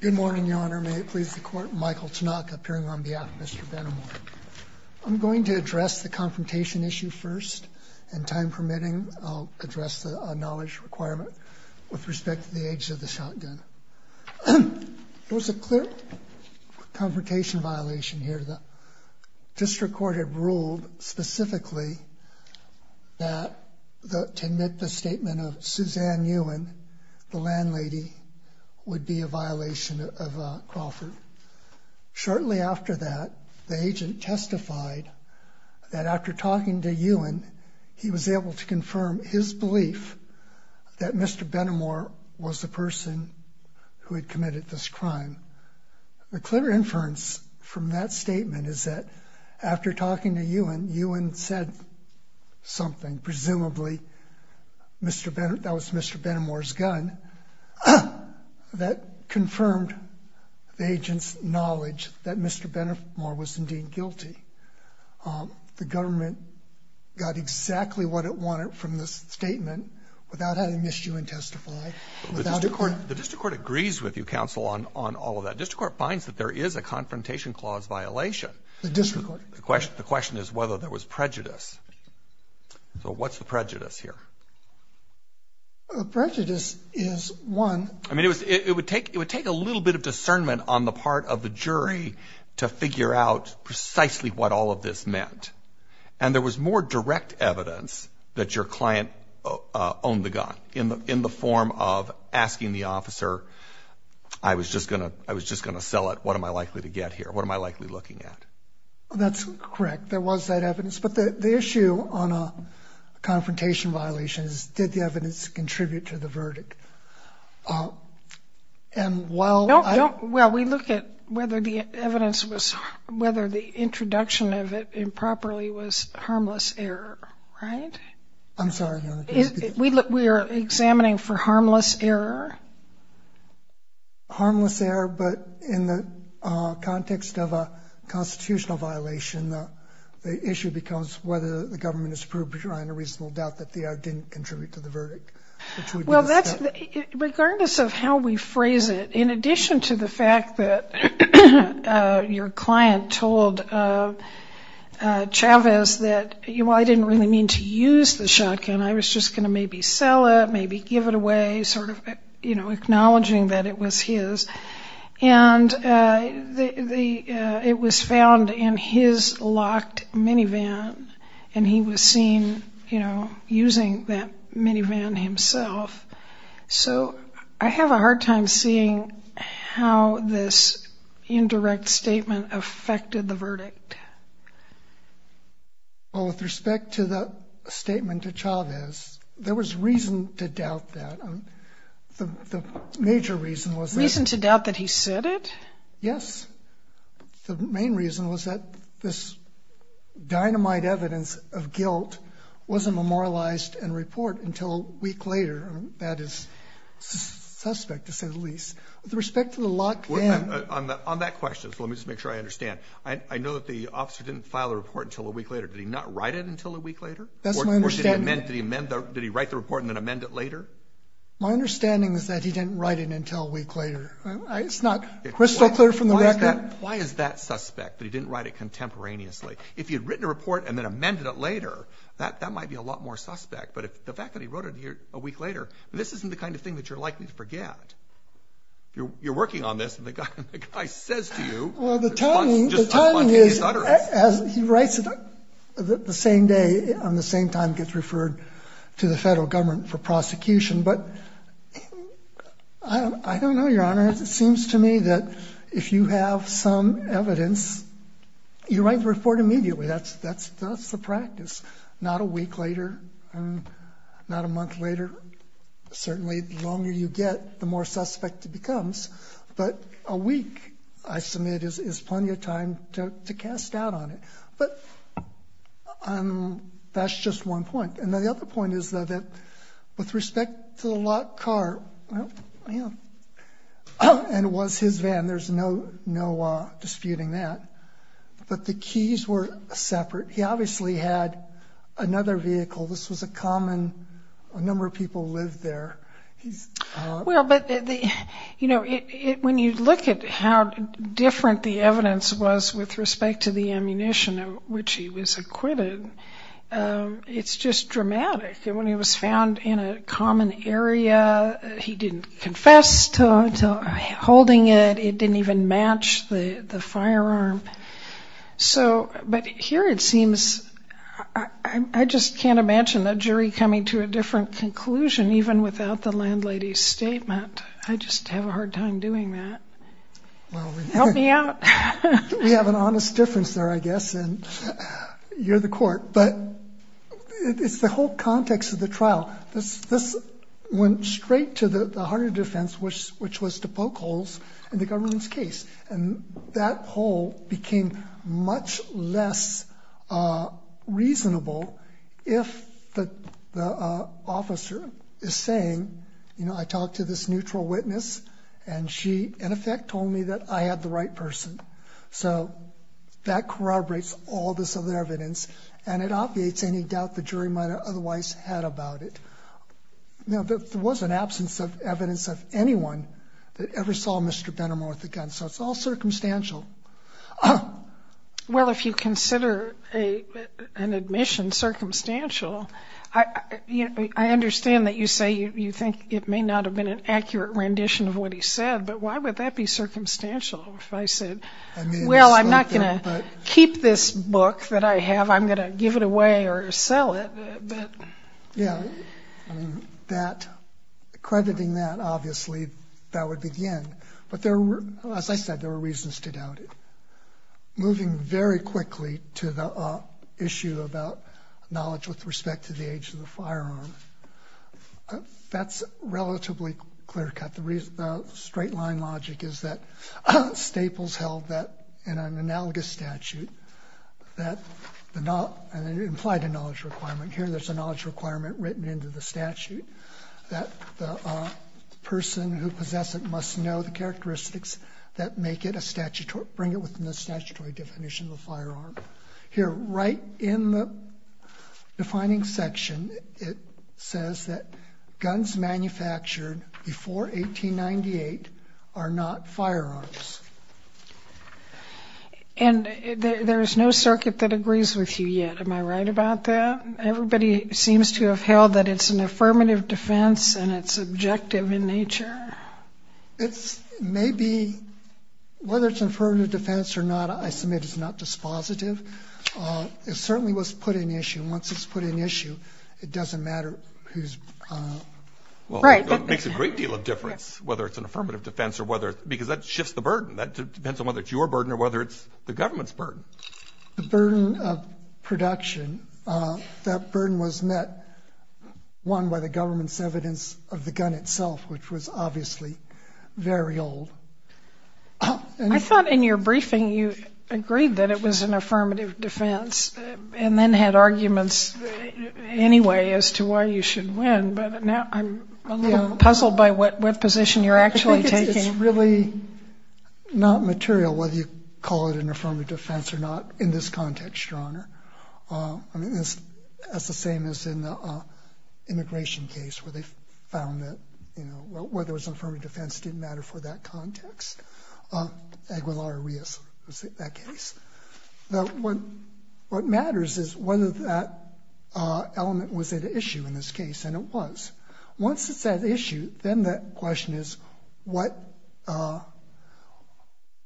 Good morning, Your Honor. May it please the Court, Michael Tanaka appearing on behalf of Mr. Benamor. I'm going to address the confrontation issue first, and time permitting, I'll address the knowledge requirement with respect to the age of the shotgun. There was a clear confrontation violation here. The district court had ruled specifically that to admit the statement of Suzanne Ewan, the landlady, would be a violation of Crawford. Shortly after that, the agent testified that after talking to Ewan, he was able to confirm his belief that Mr. Benamor was the person who had committed this crime. The clear inference from that statement is that after talking to Ewan, Ewan said something, presumably that was Mr. Benamor's gun. That confirmed the agent's knowledge that Mr. Benamor was indeed guilty. The government got exactly what it wanted from this statement without having missed Ewan testify. The district court agrees with you, counsel, on all of that. The district court finds that there is a confrontation clause violation. The district court. The question is whether there was prejudice. So what's the prejudice here? The prejudice is, one — I mean, it would take a little bit of discernment on the part of the jury to figure out precisely what all of this meant. And there was more direct evidence that your client owned the gun in the form of asking the officer, I was just going to sell it. What am I likely to get here? What am I likely looking at? That's correct. There was that evidence. But the issue on a confrontation violation is, did the evidence contribute to the verdict? And while I don't — Well, we look at whether the evidence was — whether the introduction of it improperly was harmless error, right? I'm sorry, Your Honor. We are examining for harmless error. Harmless error, but in the context of a constitutional violation, the issue becomes whether the government has proved behind a reasonable doubt that the error didn't contribute to the verdict. Well, that's — regardless of how we phrase it, in addition to the fact that your client told Chavez that, well, I didn't really mean to use the shotgun. I was just going to maybe sell it, maybe give it away, sort of, you know, acknowledging that it was his. And it was found in his locked minivan, and he was seen, you know, using that minivan himself. So I have a hard time seeing how this indirect statement affected the verdict. Well, with respect to the statement to Chavez, there was reason to doubt that. The major reason was that — Reason to doubt that he said it? Yes. The main reason was that this dynamite evidence of guilt wasn't memorialized in report until a week later. That is suspect, to say the least. With respect to the locked minivan — On that question, let me just make sure I understand. I know that the officer didn't file a report until a week later. Did he not write it until a week later? That's my understanding. Did he write the report and then amend it later? My understanding is that he didn't write it until a week later. It's not crystal clear from the record. Why is that suspect, that he didn't write it contemporaneously? If he had written a report and then amended it later, that might be a lot more suspect. But the fact that he wrote it a week later, this isn't the kind of thing that you're likely to forget. Well, the timing is, as he writes it the same day, on the same time it gets referred to the federal government for prosecution. But I don't know, Your Honor. It seems to me that if you have some evidence, you write the report immediately. That's the practice. Not a week later, not a month later. Certainly, the longer you get, the more suspect it becomes. But a week, I submit, is plenty of time to cast doubt on it. But that's just one point. And the other point is, though, that with respect to the locked car, and it was his van. There's no disputing that. But the keys were separate. He obviously had another vehicle. This was a common, a number of people lived there. Well, but when you look at how different the evidence was with respect to the ammunition of which he was acquitted, it's just dramatic. When he was found in a common area, he didn't confess to holding it. It didn't even match the firearm. But here it seems, I just can't imagine a jury coming to a different conclusion even without the landlady's statement. I just have a hard time doing that. Help me out. We have an honest difference there, I guess, and you're the court. But it's the whole context of the trial. This went straight to the heart of defense, which was to poke holes in the government's case. And that hole became much less reasonable if the officer is saying, you know, I talked to this neutral witness, and she, in effect, told me that I had the right person. So that corroborates all this other evidence, and it obviates any doubt the jury might have otherwise had about it. There was an absence of evidence of anyone that ever saw Mr. Bennemore with a gun, so it's all circumstantial. Well, if you consider an admission circumstantial, I understand that you say you think it may not have been an accurate rendition of what he said, but why would that be circumstantial if I said, Well, I'm not going to keep this book that I have. I'm going to give it away or sell it. Yeah, accrediting that, obviously, that would be the end. But as I said, there were reasons to doubt it. Moving very quickly to the issue about knowledge with respect to the age of the firearm, that's relatively clear-cut. The straight-line logic is that Staples held that in an analogous statute that implied a knowledge requirement. Here, there's a knowledge requirement written into the statute that the person who possessed it must know the characteristics that make it a statutory, bring it within the statutory definition of a firearm. Here, right in the defining section, it says that guns manufactured before 1898 are not firearms. And there is no circuit that agrees with you yet. Am I right about that? Everybody seems to have held that it's an affirmative defense and it's subjective in nature. It's maybe, whether it's an affirmative defense or not, I submit it's not dispositive. It certainly was put in issue. Once it's put in issue, it doesn't matter who's- Right. It makes a great deal of difference whether it's an affirmative defense or whether, because that shifts the burden. That depends on whether it's your burden or whether it's the government's burden. The burden of production, that burden was met, one, by the government's evidence of the gun itself, which was obviously very old. I thought in your briefing you agreed that it was an affirmative defense and then had arguments anyway as to why you should win. But now I'm a little puzzled by what position you're actually taking. It's really not material whether you call it an affirmative defense or not in this context, Your Honor. I mean, that's the same as in the immigration case where they found that whether it was an affirmative defense didn't matter for that context. Aguilar-Rios was that case. What matters is whether that element was at issue in this case, and it was. Once it's at issue, then the question is what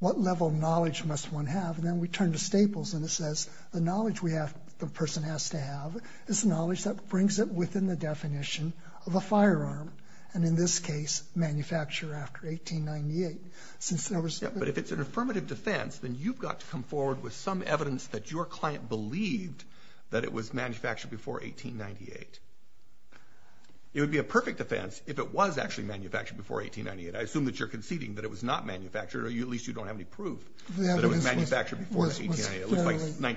level of knowledge must one have? And then we turn to Staples, and it says the knowledge the person has to have is knowledge that brings it within the definition of a firearm, and in this case, manufacture after 1898. But if it's an affirmative defense, then you've got to come forward with some evidence that your client believed that it was manufactured before 1898. It would be a perfect defense if it was actually manufactured before 1898. I assume that you're conceding that it was not manufactured, or at least you don't have any proof that it was manufactured before 1898. It looks like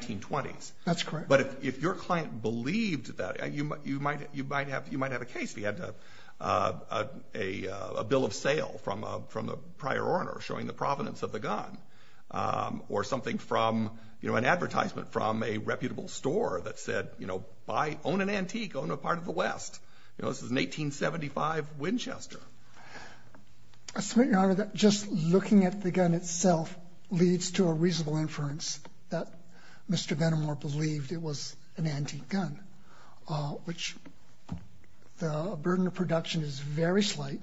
1920s. That's correct. But if your client believed that, you might have a case. We had a bill of sale from a prior owner showing the provenance of the gun, or something from, you know, an advertisement from a reputable store that said, you know, buy, own an antique, own a part of the West. You know, this is an 1875 Winchester. I submit, Your Honor, that just looking at the gun itself leads to a reasonable inference that Mr. Benamor believed it was an antique gun, which the burden of production is very slight,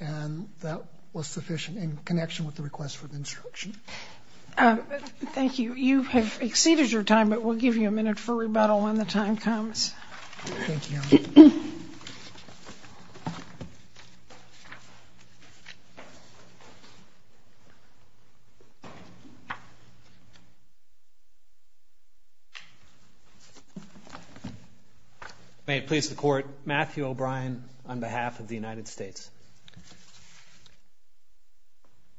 and that was sufficient in connection with the request for the instruction. Thank you. You have exceeded your time, but we'll give you a minute for rebuttal when the time comes. Thank you. May it please the Court, Matthew O'Brien on behalf of the United States.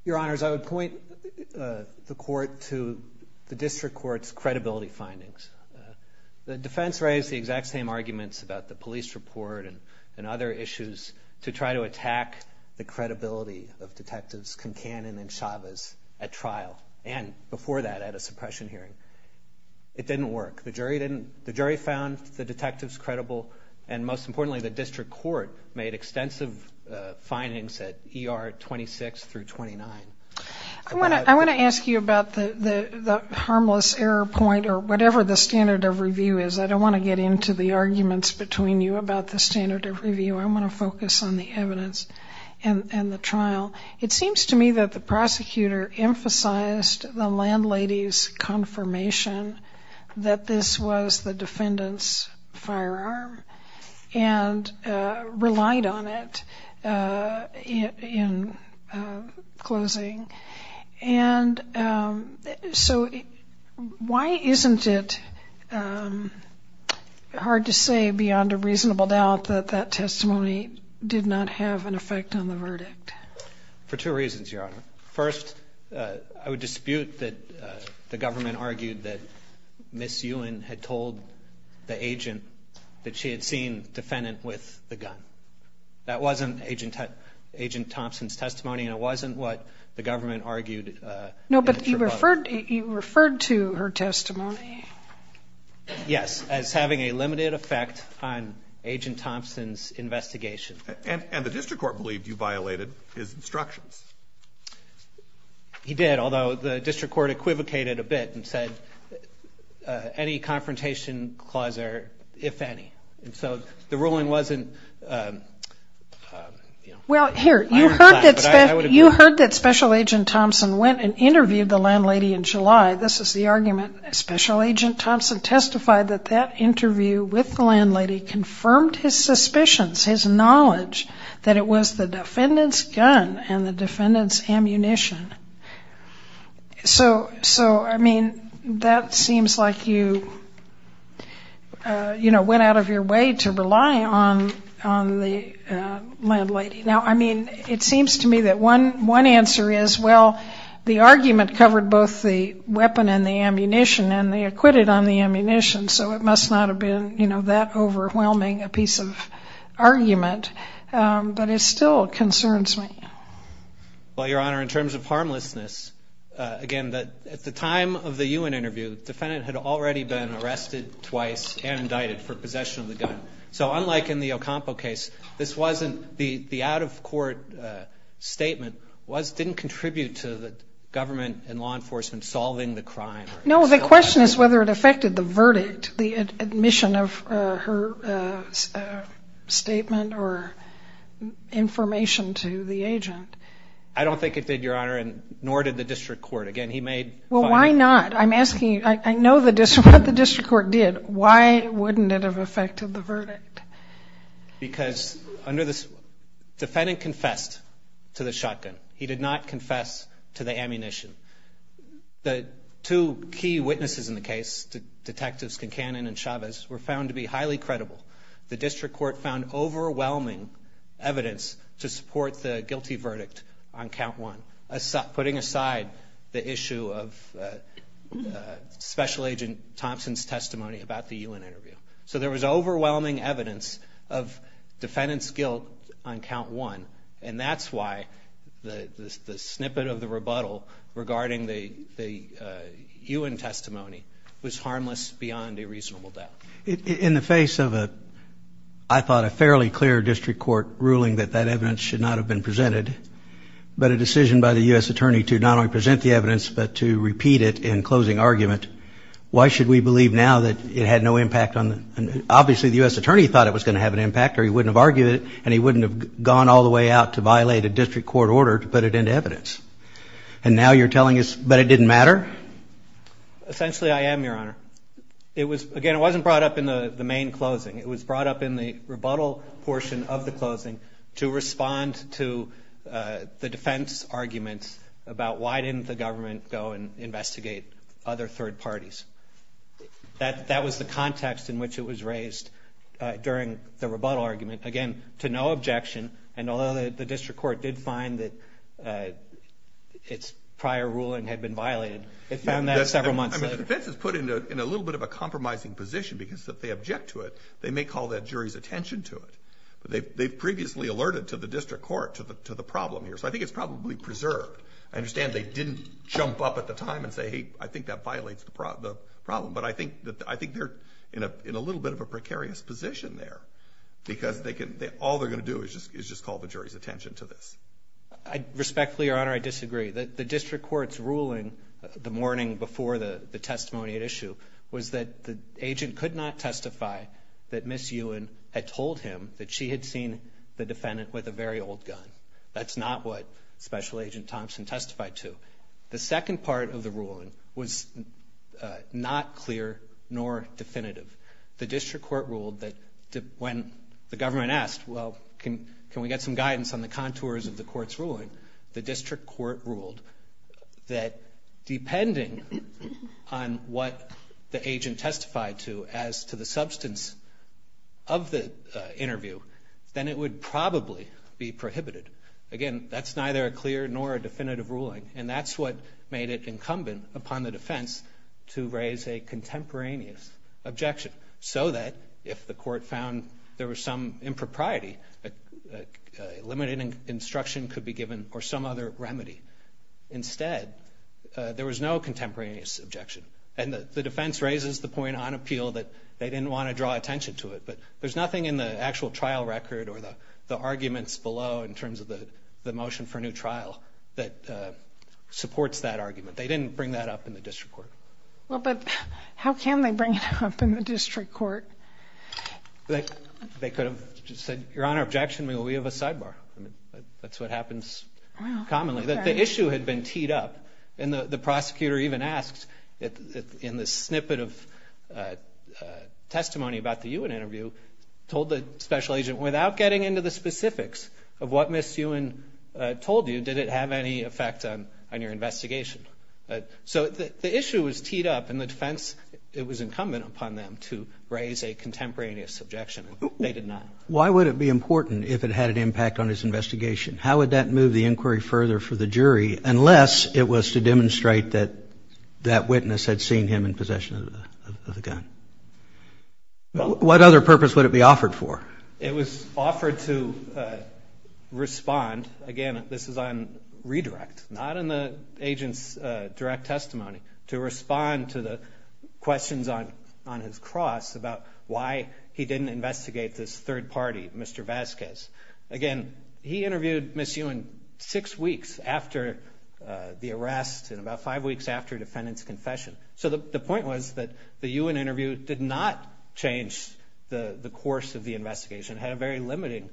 Your Honors, I would point the Court to the District Court's credibility findings. The defense raised the exact same arguments about the police report and other issues to try to attack the credibility of Detectives Concanon and Chavez at trial, and before that, at a suppression hearing. It didn't work. The jury found the detectives credible, and most importantly, the District Court made extensive findings at ER 26 through 29. I want to ask you about the harmless error point or whatever the standard of review is. I don't want to get into the arguments between you about the standard of review. I want to focus on the evidence and the trial. It seems to me that the prosecutor emphasized the landlady's confirmation that this was the defendant's firearm and relied on it in closing, and so why isn't it hard to say beyond a reasonable doubt that that testimony did not have an effect on the verdict? For two reasons, Your Honor. First, I would dispute that the government argued that Ms. Ewan had told the agent that she had seen the defendant with the gun. That wasn't Agent Thompson's testimony, and it wasn't what the government argued in its rebuttal. No, but you referred to her testimony. Yes, as having a limited effect on Agent Thompson's investigation. And the District Court believed you violated his instructions. He did, although the District Court equivocated a bit and said any confrontation clause there, if any, and so the ruling wasn't, you know, Well, here, you heard that Special Agent Thompson went and interviewed the landlady in July. This is the argument, Special Agent Thompson testified that that interview with the landlady confirmed his suspicions, his knowledge that it was the defendant's gun and the defendant's ammunition. So, I mean, that seems like you, you know, went out of your way to rely on the landlady. Now, I mean, it seems to me that one answer is, well, the argument covered both the weapon and the ammunition, and they acquitted on the ammunition, so it must not have been, you know, that overwhelming a piece of argument. But it still concerns me. Well, Your Honor, in terms of harmlessness, again, at the time of the Ewan interview, the defendant had already been arrested twice and indicted for possession of the gun. So unlike in the Ocampo case, this wasn't, the out-of-court statement didn't contribute to the government and law enforcement solving the crime. No, the question is whether it affected the verdict, the admission of her statement or information to the agent. I don't think it did, Your Honor, nor did the district court. Again, he made fun of it. Well, why not? I'm asking you, I know what the district court did. Why wouldn't it have affected the verdict? Because under the, defendant confessed to the shotgun. He did not confess to the ammunition. The two key witnesses in the case, Detectives Kincannon and Chavez, were found to be highly credible. The district court found overwhelming evidence to support the guilty verdict on count one, putting aside the issue of Special Agent Thompson's testimony about the Ewan interview. So there was overwhelming evidence of defendant's guilt on count one, and that's why the snippet of the rebuttal regarding the Ewan testimony was harmless beyond a reasonable doubt. In the face of a, I thought, a fairly clear district court ruling that that evidence should not have been presented, but a decision by the U.S. attorney to not only present the evidence but to repeat it in closing argument, why should we believe now that it had no impact on the, obviously the U.S. attorney thought it was going to have an impact or he wouldn't have argued it and he wouldn't have gone all the way out to violate a district court order to put it into evidence. And now you're telling us that it didn't matter? Essentially, I am, Your Honor. It was, again, it wasn't brought up in the main closing. It was brought up in the rebuttal portion of the closing to respond to the defense argument about why didn't the government go and investigate other third parties. That was the context in which it was raised during the rebuttal argument. Again, to no objection, and although the district court did find that its prior ruling had been violated, it found that several months later. The defense is put in a little bit of a compromising position because if they object to it, they may call that jury's attention to it. They've previously alerted to the district court to the problem here, so I think it's probably preserved. I understand they didn't jump up at the time and say, hey, I think that violates the problem, but I think they're in a little bit of a precarious position there because all they're going to do is just call the jury's attention to this. Respectfully, Your Honor, I disagree. The district court's ruling the morning before the testimony at issue was that the agent could not testify that Ms. Ewan had told him that she had seen the defendant with a very old gun. That's not what Special Agent Thompson testified to. The second part of the ruling was not clear nor definitive. The district court ruled that when the government asked, well, can we get some guidance on the contours of the court's ruling, the district court ruled that depending on what the agent testified to as to the substance of the interview, then it would probably be prohibited. Again, that's neither a clear nor a definitive ruling, and that's what made it incumbent upon the defense to raise a contemporaneous objection so that if the court found there was some impropriety, limited instruction could be given or some other remedy. Instead, there was no contemporaneous objection, and the defense raises the point on appeal that they didn't want to draw attention to it, but there's nothing in the actual trial record or the arguments below in terms of the motion for a new trial that supports that argument. They didn't bring that up in the district court. Well, but how can they bring it up in the district court? They could have just said, Your Honor, objection, but we have a sidebar. That's what happens commonly. The issue had been teed up, and the prosecutor even asked in the snippet of testimony about the Ewan interview, told the special agent, without getting into the specifics of what Ms. Ewan told you, did it have any effect on your investigation? So the issue was teed up, and the defense, it was incumbent upon them to raise a contemporaneous objection. They did not. Why would it be important if it had an impact on his investigation? How would that move the inquiry further for the jury, unless it was to demonstrate that that witness had seen him in possession of the gun? What other purpose would it be offered for? It was offered to respond. Again, this is on redirect, not in the agent's direct testimony, to respond to the questions on his cross about why he didn't investigate this third party, Mr. Vasquez. Again, he interviewed Ms. Ewan six weeks after the arrest and about five weeks after a defendant's confession. So the point was that the Ewan interview did not change the course of the investigation. It had a very limiting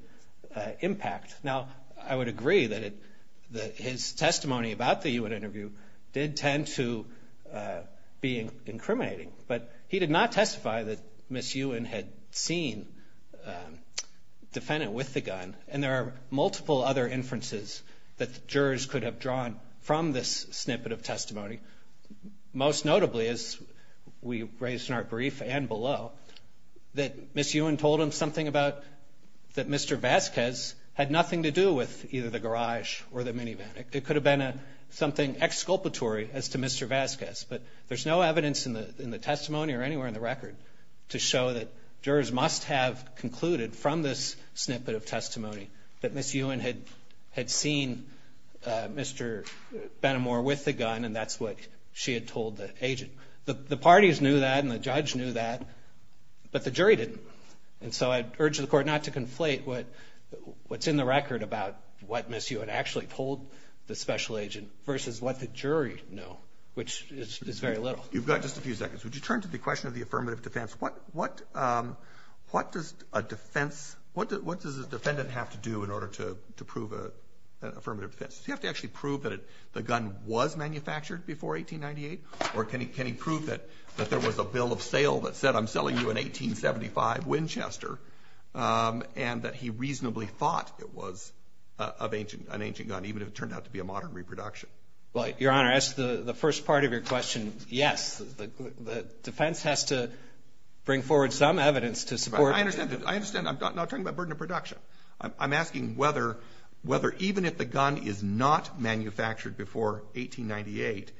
impact. Now, I would agree that his testimony about the Ewan interview did tend to be incriminating, but he did not testify that Ms. Ewan had seen the defendant with the gun, and there are multiple other inferences that jurors could have drawn from this snippet of testimony, most notably, as we raised in our brief and below, that Ms. Ewan told him something about that Mr. Vasquez had nothing to do with either the garage or the minivan. It could have been something exculpatory as to Mr. Vasquez, but there's no evidence in the testimony or anywhere in the record to show that jurors must have concluded, from this snippet of testimony, that Ms. Ewan had seen Mr. Benamor with the gun, The parties knew that and the judge knew that, but the jury didn't, and so I'd urge the court not to conflate what's in the record about what Ms. Ewan actually told the special agent versus what the jury knew, which is very little. You've got just a few seconds. Would you turn to the question of the affirmative defense? What does a defendant have to do in order to prove an affirmative defense? Does he have to actually prove that the gun was manufactured before 1898, or can he prove that there was a bill of sale that said, I'm selling you an 1875 Winchester, and that he reasonably thought it was an ancient gun, even if it turned out to be a modern reproduction? Your Honor, as to the first part of your question, yes. The defense has to bring forward some evidence to support it. I understand. I'm not talking about burden of production. I'm asking whether even if the gun is not manufactured before 1898,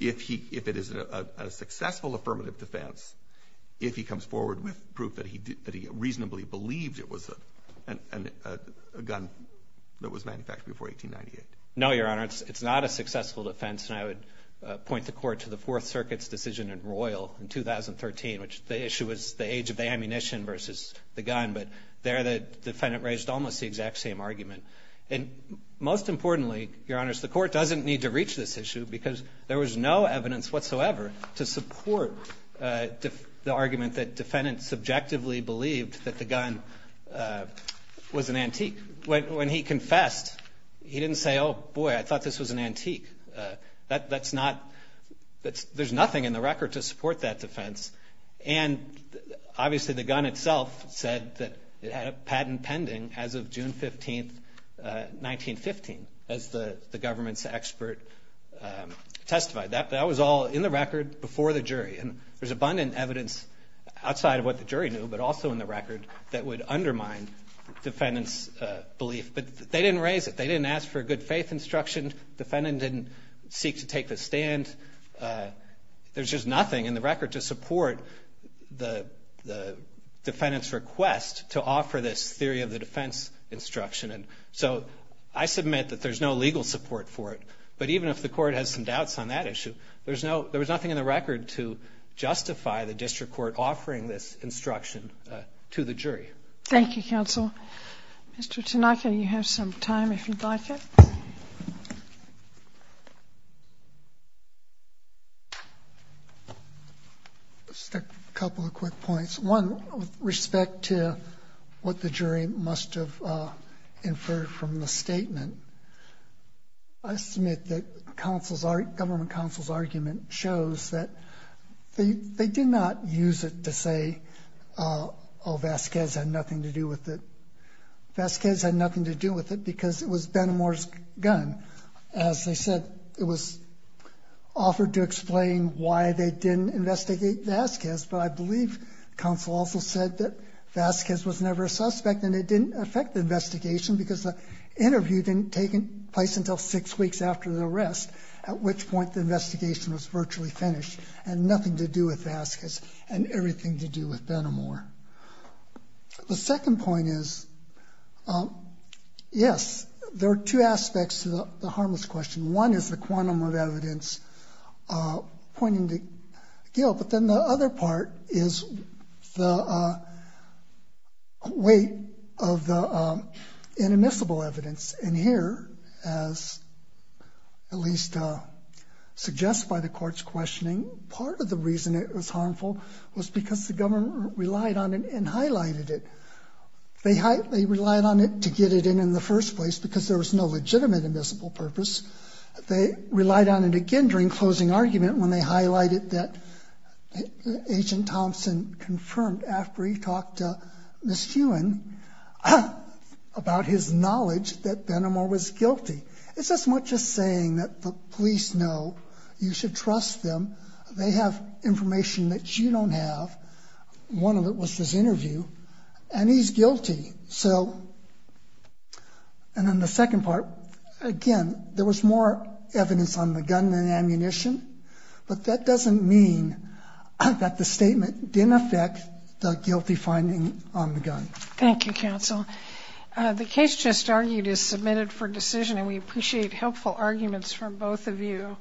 if it is a successful affirmative defense, if he comes forward with proof that he reasonably believed it was a gun that was manufactured before 1898. No, Your Honor, it's not a successful defense, and I would point the court to the Fourth Circuit's decision in Royal in 2013, which the issue was the age of the ammunition versus the gun, but there the defendant raised almost the exact same argument. And most importantly, Your Honor, the court doesn't need to reach this issue because there was no evidence whatsoever to support the argument that defendants subjectively believed that the gun was an antique. When he confessed, he didn't say, oh, boy, I thought this was an antique. There's nothing in the record to support that defense. And obviously the gun itself said that it had a patent pending as of June 15, 1915, as the government's expert testified. That was all in the record before the jury. And there's abundant evidence outside of what the jury knew, but also in the record that would undermine defendant's belief. But they didn't raise it. They didn't ask for a good faith instruction. Defendant didn't seek to take the stand. There's just nothing in the record to support the defendant's request to offer this theory of the defense instruction. And so I submit that there's no legal support for it. But even if the court has some doubts on that issue, there was nothing in the record to justify the district court offering this instruction to the jury. Thank you, counsel. Mr. Tanaka, you have some time if you'd like it. Just a couple of quick points. One, with respect to what the jury must have inferred from the statement, I submit that government counsel's argument shows that they did not use it to say, oh, Vasquez had nothing to do with it. Vasquez had nothing to do with it because it was Ben Amor's gun. As I said, it was offered to explain why they didn't investigate Vasquez, but I believe counsel also said that Vasquez was never a suspect and it didn't affect the investigation because the interview didn't take place until six weeks after the arrest, at which point the investigation was virtually finished and nothing to do with Vasquez and everything to do with Ben Amor. The second point is, yes, there are two aspects to the harmless question. One is the quantum of evidence pointing to guilt, but then the other part is the weight of the inadmissible evidence. And here, as at least suggested by the court's questioning, part of the reason it was harmful was because the government relied on it and highlighted it. They relied on it to get it in in the first place because there was no legitimate admissible purpose. They relied on it again during closing argument when they highlighted that Agent Thompson confirmed, after he talked to Ms. Hewan about his knowledge, that Ben Amor was guilty. It's as much as saying that the police know you should trust them. They have information that you don't have. One of it was this interview, and he's guilty. And then the second part, again, there was more evidence on the gun than ammunition, but that doesn't mean that the statement didn't affect the guilty finding on the gun. Thank you, counsel. The case just argued is submitted for decision, and we appreciate helpful arguments from both of you.